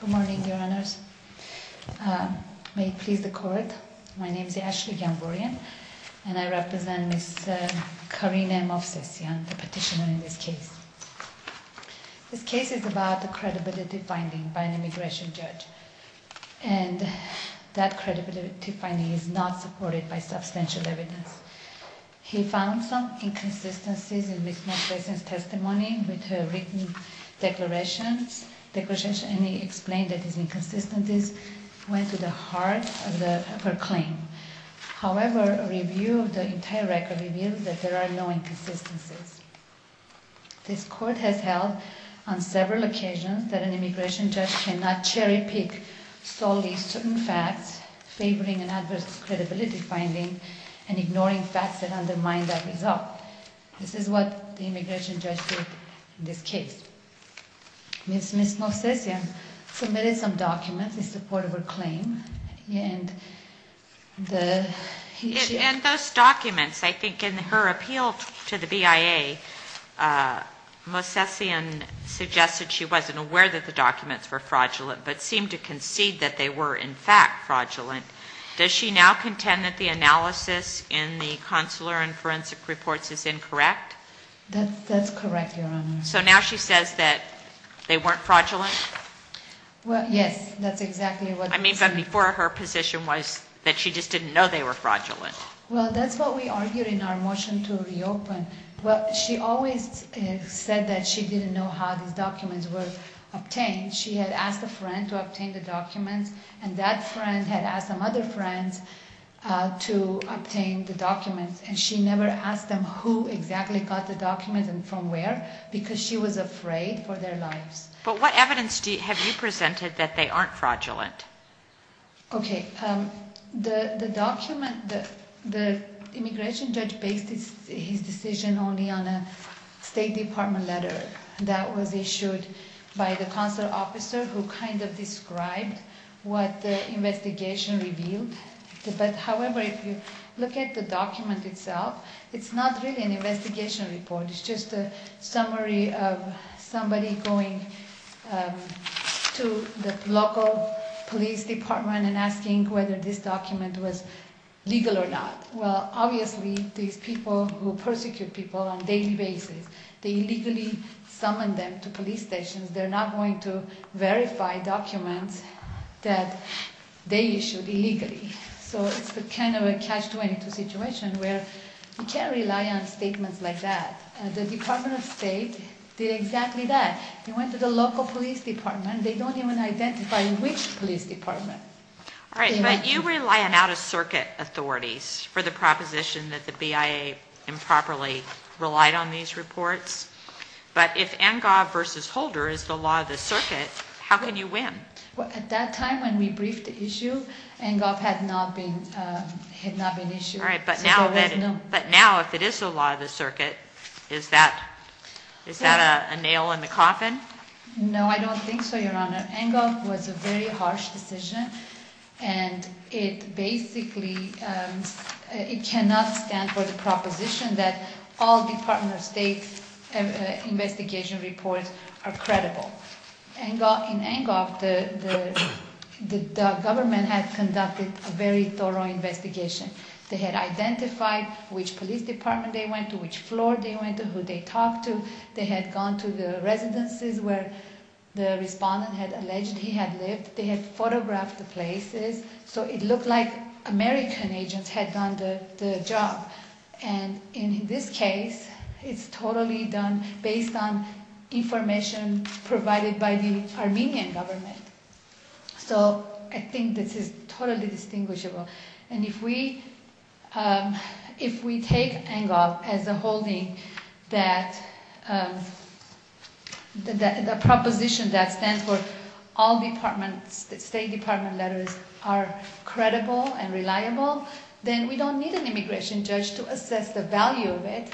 Good morning, Your Honours. May it please the Court, my name is Ashley Gamborian and I represent Ms. Karine Movsesyan, the petitioner in this case. This case is about the credibility finding by an immigration judge and that credibility finding is not supported by substantial evidence. He found some inconsistencies in Ms. Movsesyan's testimony with her written declarations, declarations and he explained that his inconsistencies went to the heart of her claim. However, a review of the entire record reveals that there are no inconsistencies. This Court has held on several occasions that an immigration judge cannot cherry pick solely certain facts favoring an adverse credibility finding and ignoring facts that undermine that result. This is what the immigration judge did in this case. Ms. Movsesyan submitted some documents in support of her claim. And those documents, I think in her appeal to the BIA, Movsesyan suggested she wasn't aware that the documents were fraudulent but seemed to concede that they were in fact fraudulent. Does she now contend that the analysis in the Consular and Records Reports is incorrect? That's correct, Your Honor. So now she says that they weren't fraudulent? Well, yes, that's exactly what... I mean, but before her position was that she just didn't know they were fraudulent. Well, that's what we argued in our motion to reopen. Well, she always said that she didn't know how these documents were obtained. She had asked a friend to obtain the documents and that friend had asked some other friends to obtain the documents and she never asked them who exactly got the documents and from where because she was afraid for their lives. But what evidence have you presented that they aren't fraudulent? Okay, the document that the immigration judge based his decision only on a State Department letter that was issued by the consular officer who kind of described what the investigation revealed. However, if you look at the document itself, it's not really an investigation report. It's just a summary of somebody going to the local police department and asking whether this document was legal or not. Well, obviously, these people who persecute people on a daily basis, they illegally summon them to police stations. They're not going to verify documents that they issued illegally. So it's the kind of a catch-22 situation where you can't rely on statements like that. The Department of State did exactly that. They went to the local police department. They don't even identify which police department. All right, but you rely on out-of-circuit authorities for the proposition that the BIA improperly relied on these reports. But if Angov versus Holder is the law of the circuit, how can you win? Well, at that time when we briefed the issue, Angov had not been issued. All right, but now if it is the law of the circuit, is that a nail in the coffin? No, I don't think so, Your Honor. Angov was a very harsh decision and it basically it cannot stand for the proposition that all Department of State investigation reports are credible. In Angov, the government had conducted a very thorough investigation. They had identified which police department they went to, which floor they went to, who they talked to. They had gone to the residences where the respondent had alleged he had lived. They had photographed the places. So it looked like American agents had done the job. And in this case, it's totally done based on information provided by the Armenian government. So I think this is totally distinguishable. And if we take Angov as a holding that the proposition that stands for all State Department letters are credible and reliable, then we don't need an immigration judge to assess the value of it.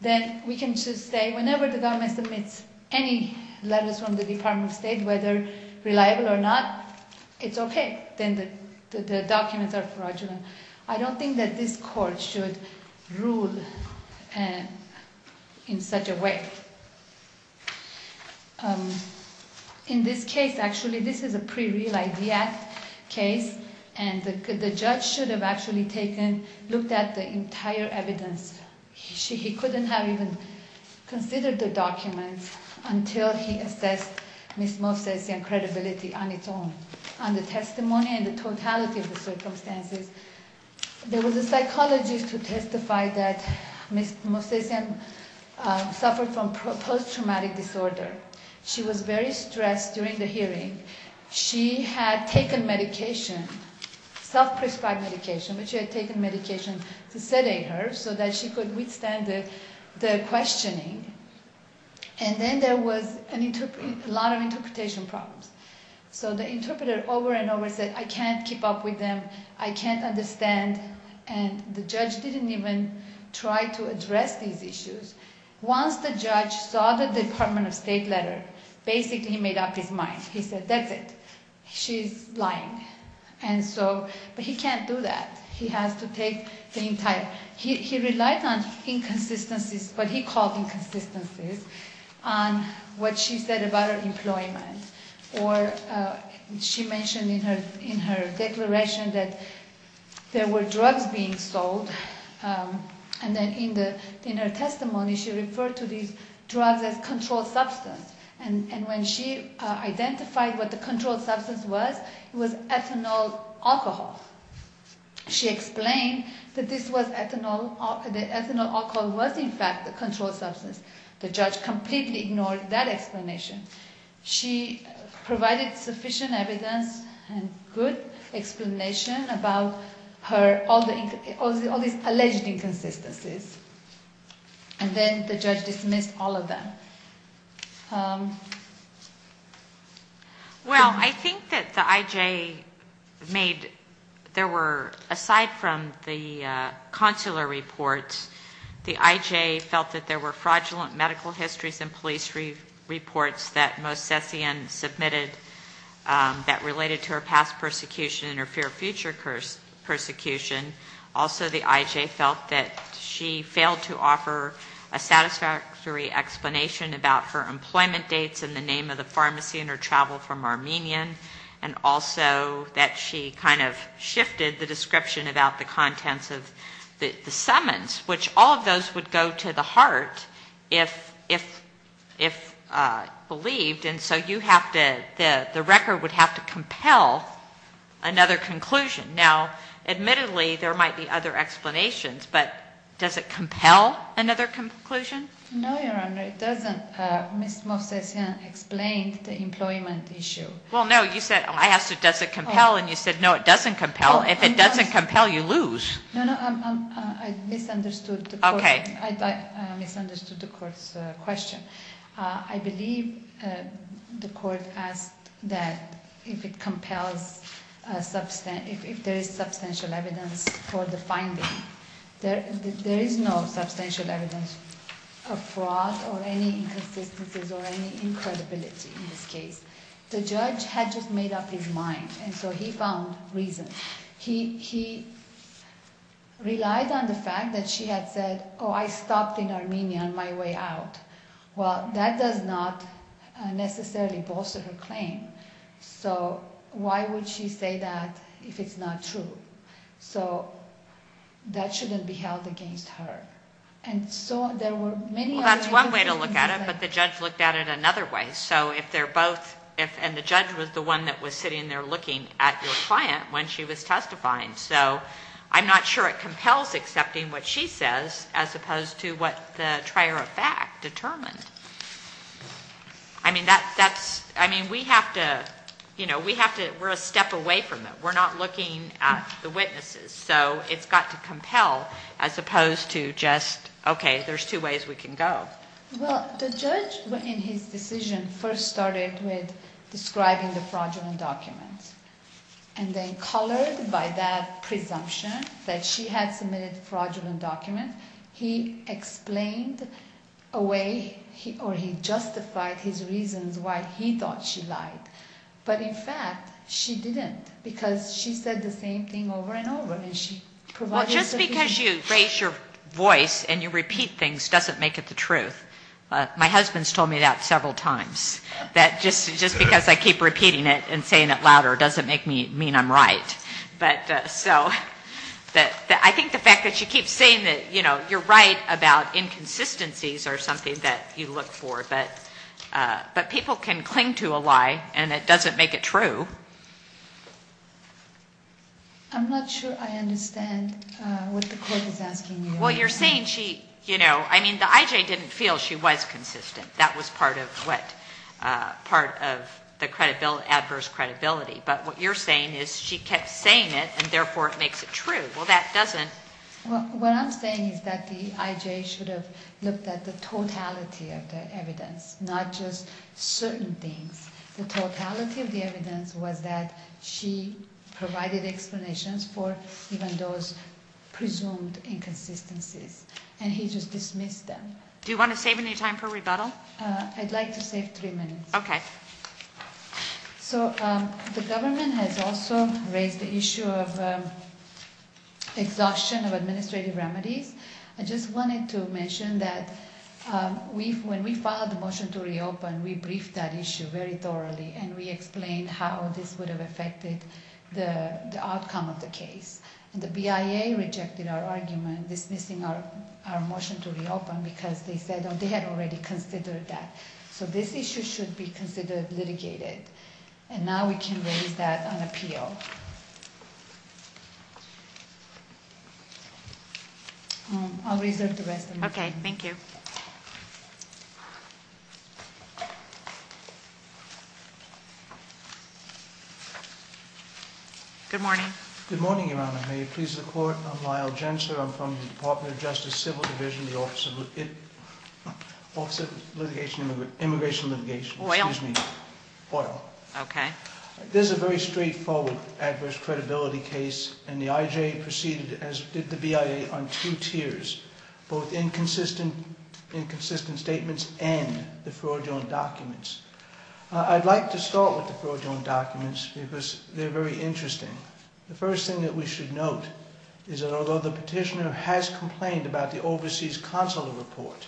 Then we can just say whenever the government submits any letters from the Department of State, whether reliable or not, it's okay. Then the documents are fraudulent. I don't think that this Court should rule in such a way. In this case, actually, this is a pre-Real Idea case, and the judge should have actually taken, looked at the entire evidence. He couldn't have even considered the documents until he assessed Ms. Mosesian's credibility on its own. On the testimony and the totality of the post-traumatic disorder, she was very stressed during the hearing. She had taken medication, self-prescribed medication, but she had taken medication to sedate her so that she could withstand the questioning. And then there was a lot of interpretation problems. So the interpreter over and over said, I can't keep up with them. I can't understand. And the judge didn't even try to address these issues. Once the judge saw the Department of State letter, basically he made up his mind. He said, that's it. She's lying. But he can't do that. He has to take the entire, he relied on inconsistencies, what he called inconsistencies, on what she said about her employment. Or she mentioned in her declaration that there were drugs being sold. And then in her testimony, she referred to these drugs as controlled substance. And when she identified what the controlled substance was, it was ethanol alcohol. She explained that this was ethanol, the ethanol alcohol was in fact the controlled substance. The judge completely ignored that explanation. She provided sufficient evidence and good explanation about all these alleged inconsistencies. And then the judge dismissed all of them. Well, I think that the IJ made, there were, aside from the consular reports, the IJ felt that there were fraudulent medical histories and police reports that Mosessian submitted that related to her past persecution and her future persecution. Also the IJ felt that she failed to offer a satisfactory explanation about her employment dates and the name of the pharmacy and her travel from Armenia. And also that she kind of shifted the description about the contents of the summons, which all of those would go to the heart if believed. And so you the record would have to compel another conclusion. Now, admittedly, there might be other explanations, but does it compel another conclusion? No, Your Honor, it doesn't. Ms. Mosessian explained the employment issue. Well, no, you said, I asked, does it compel? And you said, no, it doesn't compel. If it doesn't compel, you lose. No, no, I misunderstood the court's question. I believe the court asked that if it compels, if there is substantial evidence for the finding, there is no substantial evidence of fraud or any inconsistencies or any incredibility in this case. The judge had just made up his mind. And so he found reason. He relied on the fact that she had said, oh, I stopped in Armenia on my way out. Well, that does not necessarily bolster her claim. So why would she say that if it's not true? So that shouldn't be held against her. And so there were many... Well, that's one way to look at it, but the judge looked at it another way. So if they're both, if, and the judge was the one that was sitting there looking at your So I'm not sure it compels accepting what she says, as opposed to what the trier of fact determined. I mean, that's, that's, I mean, we have to, you know, we have to, we're a step away from it. We're not looking at the witnesses. So it's got to compel as opposed to just, okay, there's two ways we can go. Well, the judge in his decision first started with describing the presumption that she had submitted a fraudulent document. He explained a way he, or he justified his reasons why he thought she lied. But in fact, she didn't because she said the same thing over and over and she provided... Well, just because you raise your voice and you repeat things doesn't make it the truth. My husband's told me that several times, that just, just because I keep repeating it and saying it louder doesn't make me mean I'm right. But so, that, I think the fact that she keeps saying that, you know, you're right about inconsistencies are something that you look for, but, but people can cling to a lie and it doesn't make it true. I'm not sure I understand what the court is asking you. Well, you're saying she, you know, I mean, the IJ didn't feel she was inconsistent. That was part of what, part of the credibility, adverse credibility. But what you're saying is she kept saying it and therefore it makes it true. Well, that doesn't... Well, what I'm saying is that the IJ should have looked at the totality of the evidence, not just certain things. The totality of the evidence was that she provided explanations for even those presumed inconsistencies and he just dismissed them. Do you want to save any time for rebuttal? Uh, I'd like to save three minutes. Okay. So, um, the government has also raised the issue of, um, exhaustion of administrative remedies. I just wanted to mention that, um, we've, when we filed the motion to reopen, we briefed that issue very thoroughly and we explained how this would have affected the, the outcome of the case and the BIA rejected our argument dismissing our, our motion to reopen because they said they had already considered that. So this issue should be considered litigated and now we can raise that on appeal. I'll reserve the rest. Okay. Thank you. Good morning. Good morning, Your Honor. May it please the Court, I'm Lyle Jensler. I'm from the Department of Justice Civil Division, the Office of Office of Litigation, Immigration and Litigation. OIL. Excuse me, OIL. Okay. This is a very straightforward adverse credibility case and the IJ proceeded as did the BIA on two tiers, both inconsistent, inconsistent statements and the fraudulent documents. I'd like to start with the fraudulent documents because they're very interesting. The first thing that we should note is that although the petitioner has complained about the overseas consular report,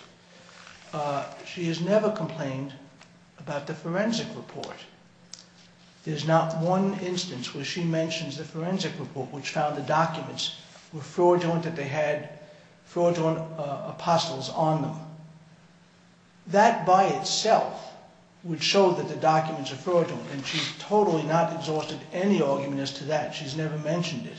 uh, she has never complained about the forensic report. There's not one instance where she mentions the forensic report, which found the documents were fraudulent, that they had fraudulent, uh, apostles on them. That by itself would show that the documents are fraudulent and she's totally not exhausted any argument as to that. She's never mentioned it.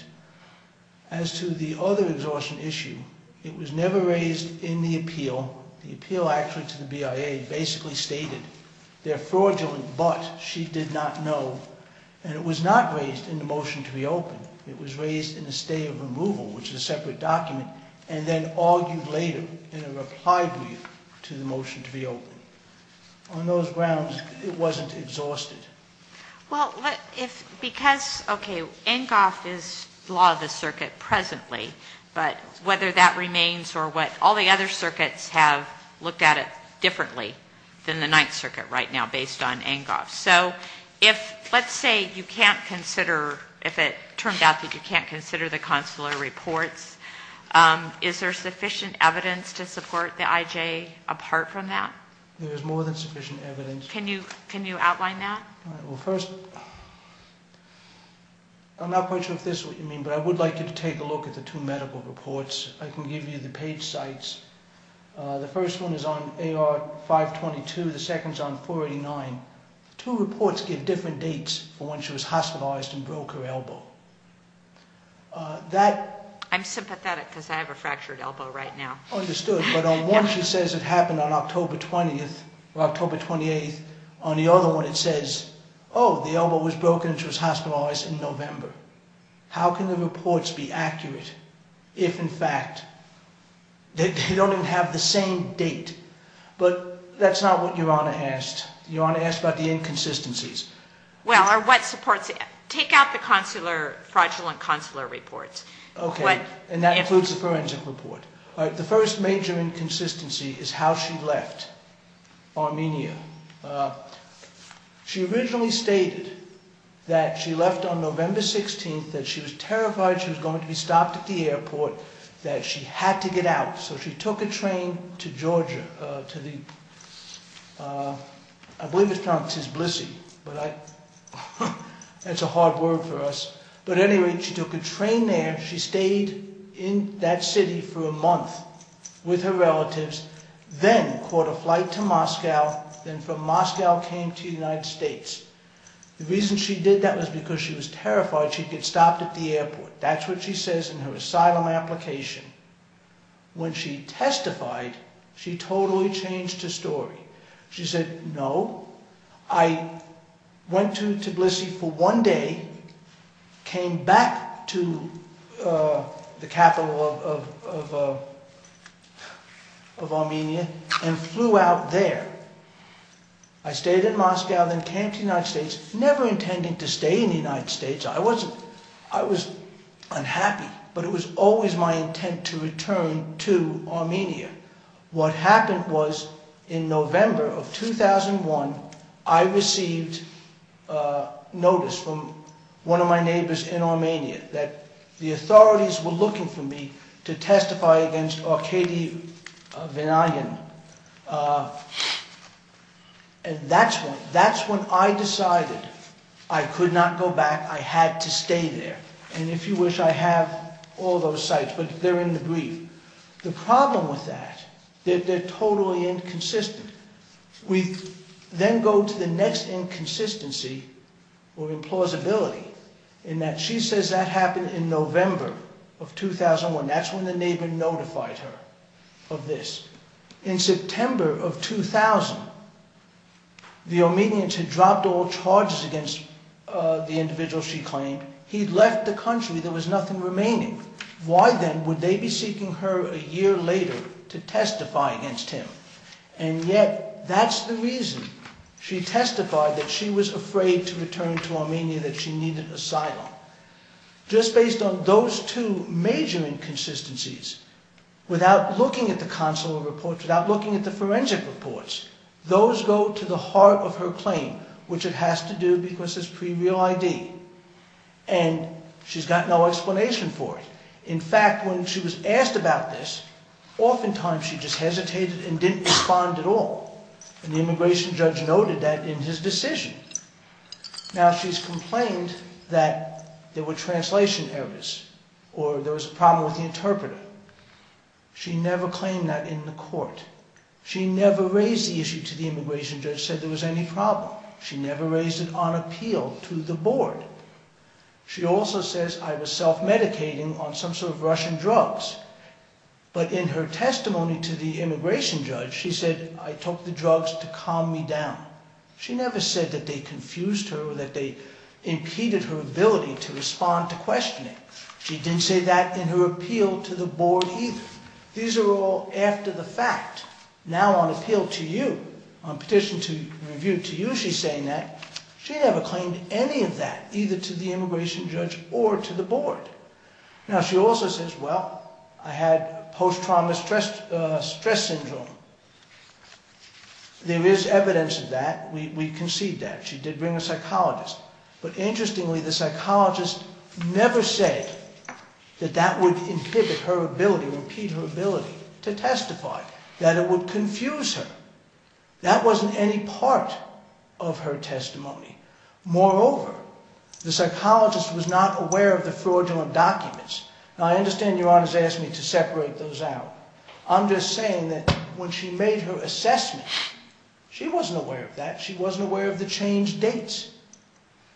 As to the other exhaustion issue, it was never raised in the appeal. The appeal actually to the BIA basically stated they're fraudulent, but she did not know, and it was not raised in the motion to reopen. It was raised in the stay of removal, which is a separate document, and then argued later in a reply brief to the motion to reopen. On those grounds, it wasn't exhausted. Well, if, because, okay, NCOF is law of the circuit presently, but whether that remains or what, all the other circuits have looked at it So if, let's say you can't consider, if it turns out that you can't consider the consular reports, um, is there sufficient evidence to support the IJ apart from that? There is more than sufficient evidence. Can you, can you outline that? All right, well first, I'm not quite sure if this is what you mean, but I would like you to take a look at the two medical reports. I can give you the page sites. Uh, the first one is on AR 522, the second's on 489. Two reports give different dates for when she was hospitalized and broke her elbow. Uh, that... I'm sympathetic because I have a fractured elbow right now. Understood, but on one, she says it happened on October 20th or October 28th. On the other one, it says, oh, the elbow was broken and she was hospitalized in November. How can the reports be accurate if, in fact, they don't even have the same date? But that's not what Your Honor asked. Your Honor asked about the inconsistencies. Well, or what supports it? Take out the consular, fraudulent consular reports. Okay, and that includes the forensic report. All right, the first major inconsistency is how she left Armenia. Uh, she originally stated that she left on November 16th, that she was terrified she was going to be stopped at the airport, that she had to get out. So she took a but I... that's a hard word for us. But at any rate, she took a train there. She stayed in that city for a month with her relatives, then caught a flight to Moscow, then from Moscow came to the United States. The reason she did that was because she was terrified she'd get stopped at the airport. That's what she says in her asylum application. When she testified, she totally changed her story. She said, no, I went to Tbilisi for one day, came back to the capital of... of Armenia and flew out there. I stayed in Moscow, then came to the United States, never intending to stay in the United States. I wasn't... I was unhappy, but it was always my intent to return to Armenia. What happened was, in November of 2001, I received a notice from one of my neighbors in Armenia that the authorities were looking for me to testify against Arkady Vinayan. And that's when... that's when I decided I could not go back. I had to stay there. And if you wish, I have all those sites, but they're in the brief. The problem with that, they're totally inconsistent. We then go to the next inconsistency or implausibility in that she says that happened in November of 2001. That's when the neighbor notified her of this. In September of 2000, the Armenians had dropped all charges against the individual she claimed. He'd left the country. There was nothing remaining. Why then would they be seeking her a year later to testify against him? And yet that's the reason she testified that she was afraid to return to Armenia, that she needed asylum. Just based on those two major inconsistencies, without looking at the consular reports, without looking at the forensic reports, those go to the heart of her claim, which it has to do because it's pre-real ID. And she's got no explanation for it. In fact, when she was asked about this, oftentimes she just hesitated and didn't respond at all. And the immigration judge noted that in his decision. Now she's complained that there were translation errors or there was a problem with the interpreter. She never claimed that in the court. She never raised the issue to appeal to the board. She also says, I was self-medicating on some sort of Russian drugs. But in her testimony to the immigration judge, she said, I took the drugs to calm me down. She never said that they confused her or that they impeded her ability to respond to questioning. She didn't say that in her appeal to the board either. These are all after the fact. Now on to you, on petition to review to you, she's saying that she never claimed any of that, either to the immigration judge or to the board. Now she also says, well, I had post-trauma stress syndrome. There is evidence of that. We concede that she did bring a psychologist, but interestingly, the psychologist never said that that would inhibit her ability, repeat her ability to testify, that it would confuse her. That wasn't any part of her testimony. Moreover, the psychologist was not aware of the fraudulent documents. Now I understand your Honor has asked me to separate those out. I'm just saying that when she made her assessment, she wasn't aware of that. She wasn't aware of the changed dates.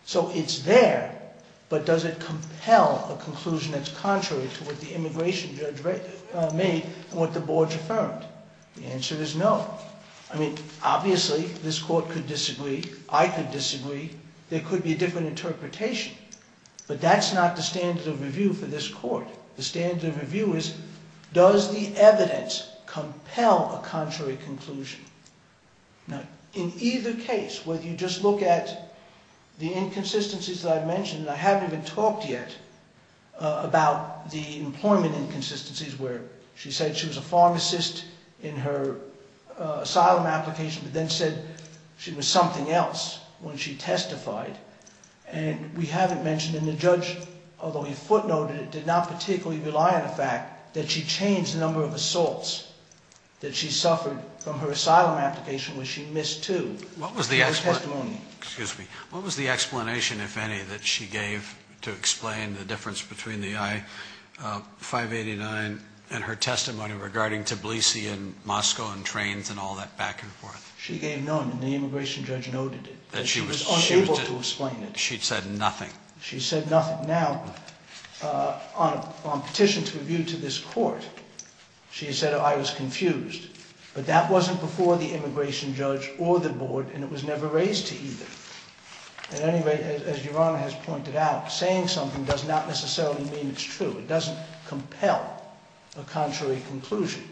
So it's there, but does it compel a conclusion that's contrary to what the immigration judge made and what the board affirmed? The answer is no. I mean, obviously this court could disagree. I could disagree. There could be a different interpretation, but that's not the standard of review for this court. The standard of review is, does the evidence compel a contrary conclusion? Now in either case, whether you just look at the inconsistencies that I mentioned, I haven't even talked yet about the employment inconsistencies where she said she was a pharmacist in her asylum application, but then said she was something else when she testified. And we haven't mentioned in the judge, although he footnoted it, did not particularly rely on the fact that she changed the number of assaults that she suffered from her What was the explanation, if any, that she gave to explain the difference between the I-589 and her testimony regarding Tbilisi and Moscow and trains and all that back and forth? She gave none and the immigration judge noted it. She was unable to explain it. She said nothing. She said nothing. Now, on petition to review to this court, she said, I was confused, but that wasn't before the immigration judge or the board and it was never raised to either. At any rate, as Yorana has pointed out, saying something does not necessarily mean it's true. It doesn't compel a contrary conclusion.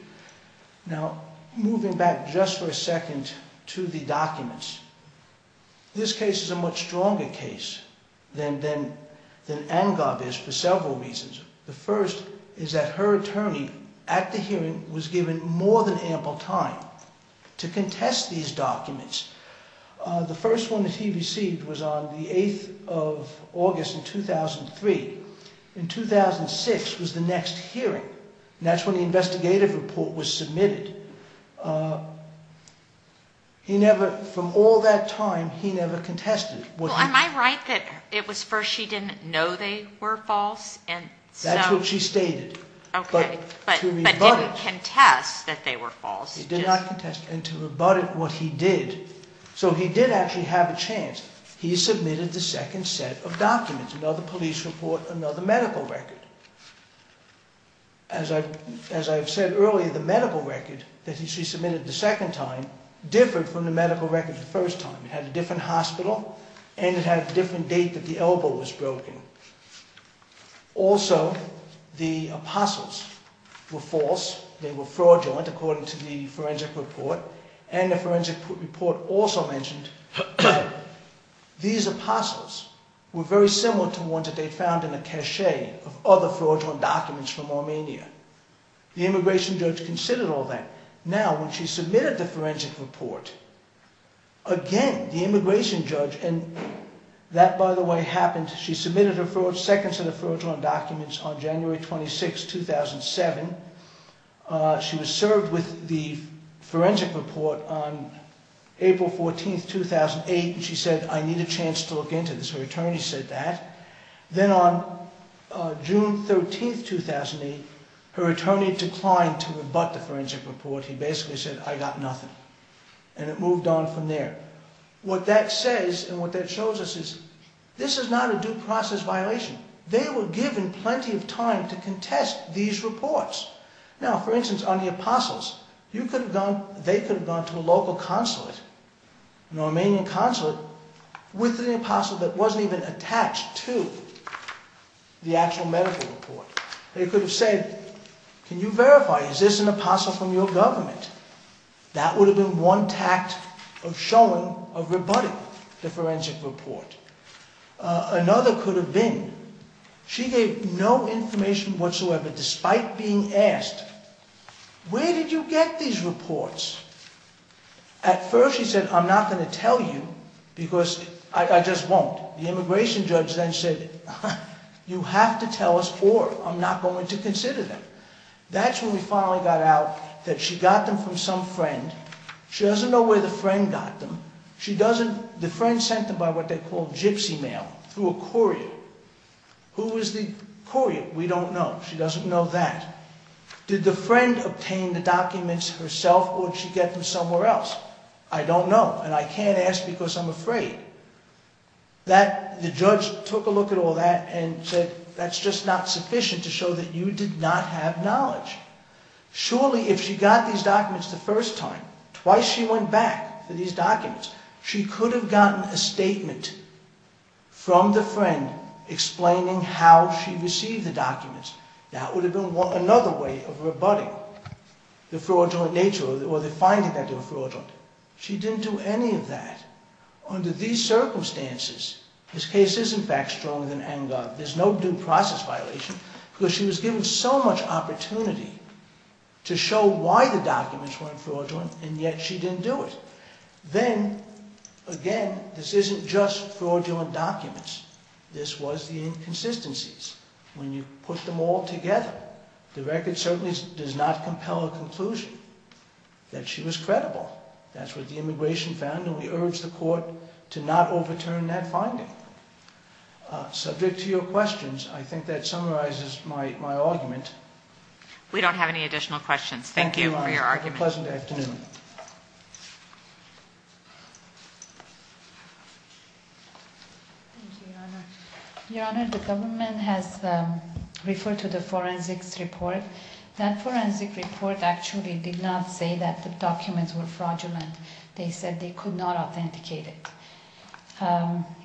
Now, moving back just for a second to the documents, this case is a much stronger case than Angab is for several reasons. The first is that her attorney at the hearing was given more than ample time to contest these was on the 8th of August in 2003. In 2006 was the next hearing and that's when the investigative report was submitted. He never, from all that time, he never contested. Well, am I right that it was first she didn't know they were false? And that's what she stated, but didn't contest that they were false. And to rebut it, what he did, so he did actually have a chance. He submitted the second set of documents, another police report, another medical record. As I've said earlier, the medical record that she submitted the second time differed from the medical records the first time. It had a different hospital and it had a different date that the elbow was broken. Also, the apostles were false. They were fraudulent according to the forensic report and the forensic report also mentioned these apostles were very similar to ones that they found in a cache of other fraudulent documents from Armenia. The immigration judge considered all that. Now, when she submitted the forensic report, again, the immigration judge, and that by the way happened, she submitted her second set of fraudulent documents on January 26, 2007. She was served with the forensic report on April 14, 2008, and she said, I need a chance to look into this. Her attorney said that. Then on June 13, 2008, her attorney declined to rebut the forensic report. He basically said, I got nothing. It moved on from there. What that says and what that shows us is this is not a due process violation. They were given plenty of time to contest these reports. Now, for instance, on the apostles, they could have gone to a local consulate, an Armenian consulate, with an apostle that wasn't even attached to the actual medical report. They could have said, can you verify, is this an apostle from your government? That would have been one tact of showing, of rebutting the forensic report. Another could have been, she gave no information whatsoever despite being asked, where did you get these reports? At first, she said, I'm not going to tell you because I just won't. The immigration judge then said, you have to tell us or I'm not going to consider them. That's when we finally got out that she got them from some friend. She doesn't know where the friend got them. The friend sent them by what they call gypsy mail through a courier. Who was the courier? We don't know. She doesn't know that. Did the friend obtain the documents herself or did she get them somewhere else? I don't know and I can't ask because I'm afraid. The judge took a look at all that and said, that's just not sufficient to show that you did not have knowledge. Surely, if she got these documents the first time, twice she went back for these documents. She could have gotten a statement from the friend explaining how she received the documents. That would have been another way of rebutting the fraudulent nature or the finding that they were fraudulent. She didn't do any of that. Under these circumstances, this case is in fact stronger than ANGAR. There's no due process violation because she was given so much opportunity to show why the documents weren't fraudulent and yet she didn't do it. Then again, this isn't just fraudulent documents. This was the inconsistencies. When you put them all together, the record certainly does not compel a conclusion that she was credible. That's what the immigration found and we urge the court to not overturn that finding. Subject to your questions, I think that summarizes my argument. We don't have any additional questions. Thank you for your argument. Thank you, Your Honor. It was a pleasant afternoon. Your Honor, the government has referred to the forensics report. That forensic report actually did not say that the documents were fraudulent. They said they could not authenticate it.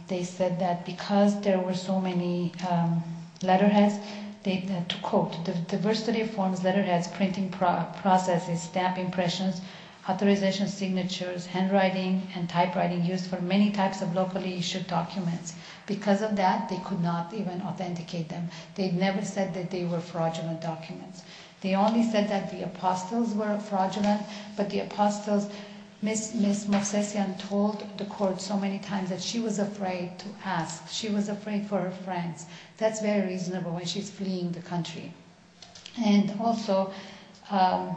They said that because there were so many letterheads, to quote, the diversity of forms, letterheads, printing processes, stamp impressions, authorization signatures, handwriting, and typewriting used for many types of locally issued documents. Because of that, they could not even authenticate them. They never said that they were fraudulent documents. They only said that the apostles, Ms. Movsesian told the court so many times that she was afraid to ask. She was afraid for her friends. That's very reasonable when she's fleeing the country. And also, the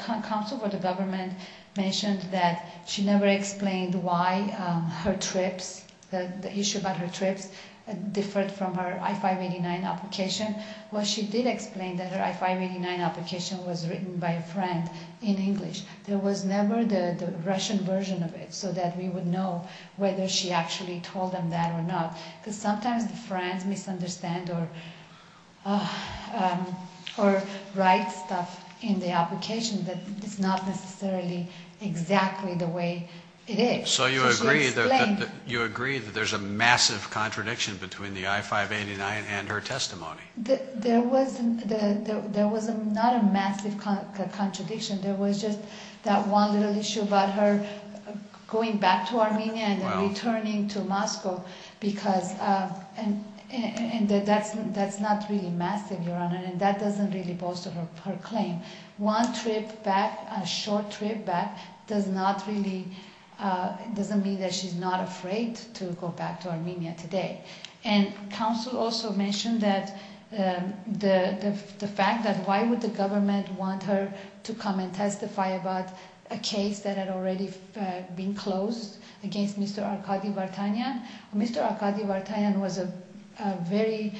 counsel for the government mentioned that she never explained why her trips, the issue about her trips, differed from her I-589 application. Well, she did explain that her I-589 application was written by a friend in English. There was never the Russian version of it so that we would know whether she actually told them that or not. Because sometimes the friends misunderstand or write stuff in the application that is not necessarily exactly the way it is. So you agree that there's a massive contradiction between the I-589 and her testimony? There was not a massive contradiction. There was just that one little issue about her going back to Armenia and returning to Moscow. And that's not really massive, Your Honor. And that doesn't really bolster her claim. One trip back, a short trip back, doesn't mean that she's not afraid to go back to Armenia today. And counsel also mentioned that the fact that why would the government want her to come and testify about a case that had already been closed against Mr. Arkady Vartanyan? Mr. Arkady Vartanyan was a very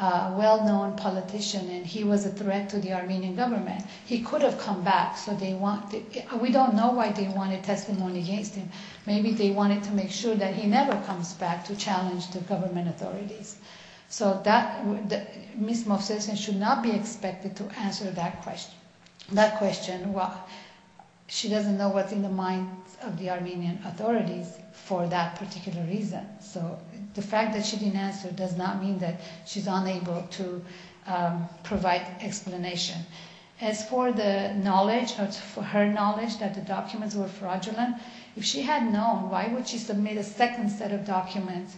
well-known politician and he was a threat to the Armenian government. He could have come back. We don't know why they wanted testimony against him. Maybe they wanted to make sure that he never comes back to challenge the government authorities. So Ms. Movsesian should not be expected to answer that question. She doesn't know what's in the minds of the Armenian authorities for that particular reason. So the fact that she didn't answer does not mean that she's unable to provide explanation. As for her knowledge that the documents were fraudulent, if she had known, why would she submit a second set of documents?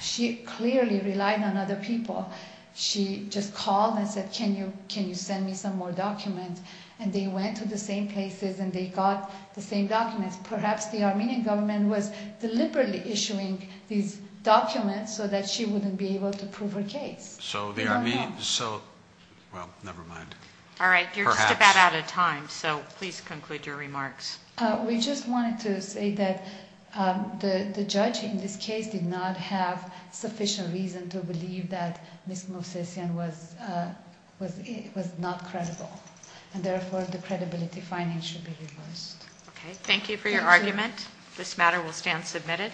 She clearly relied on other people. She just called and said, can you send me some more documents? And they went to the same places and they got the same documents. Perhaps the Armenian government was deliberately issuing these documents so that she wouldn't be able to prove her case. So, well, never mind. All right. You're just about out of time. So please conclude your remarks. We just wanted to say that the judge in this case did not have sufficient reason to believe that Ms. Movsesian was not credible and therefore the credibility finding should be reversed. Okay. Thank you for your argument. This matter will stand submitted.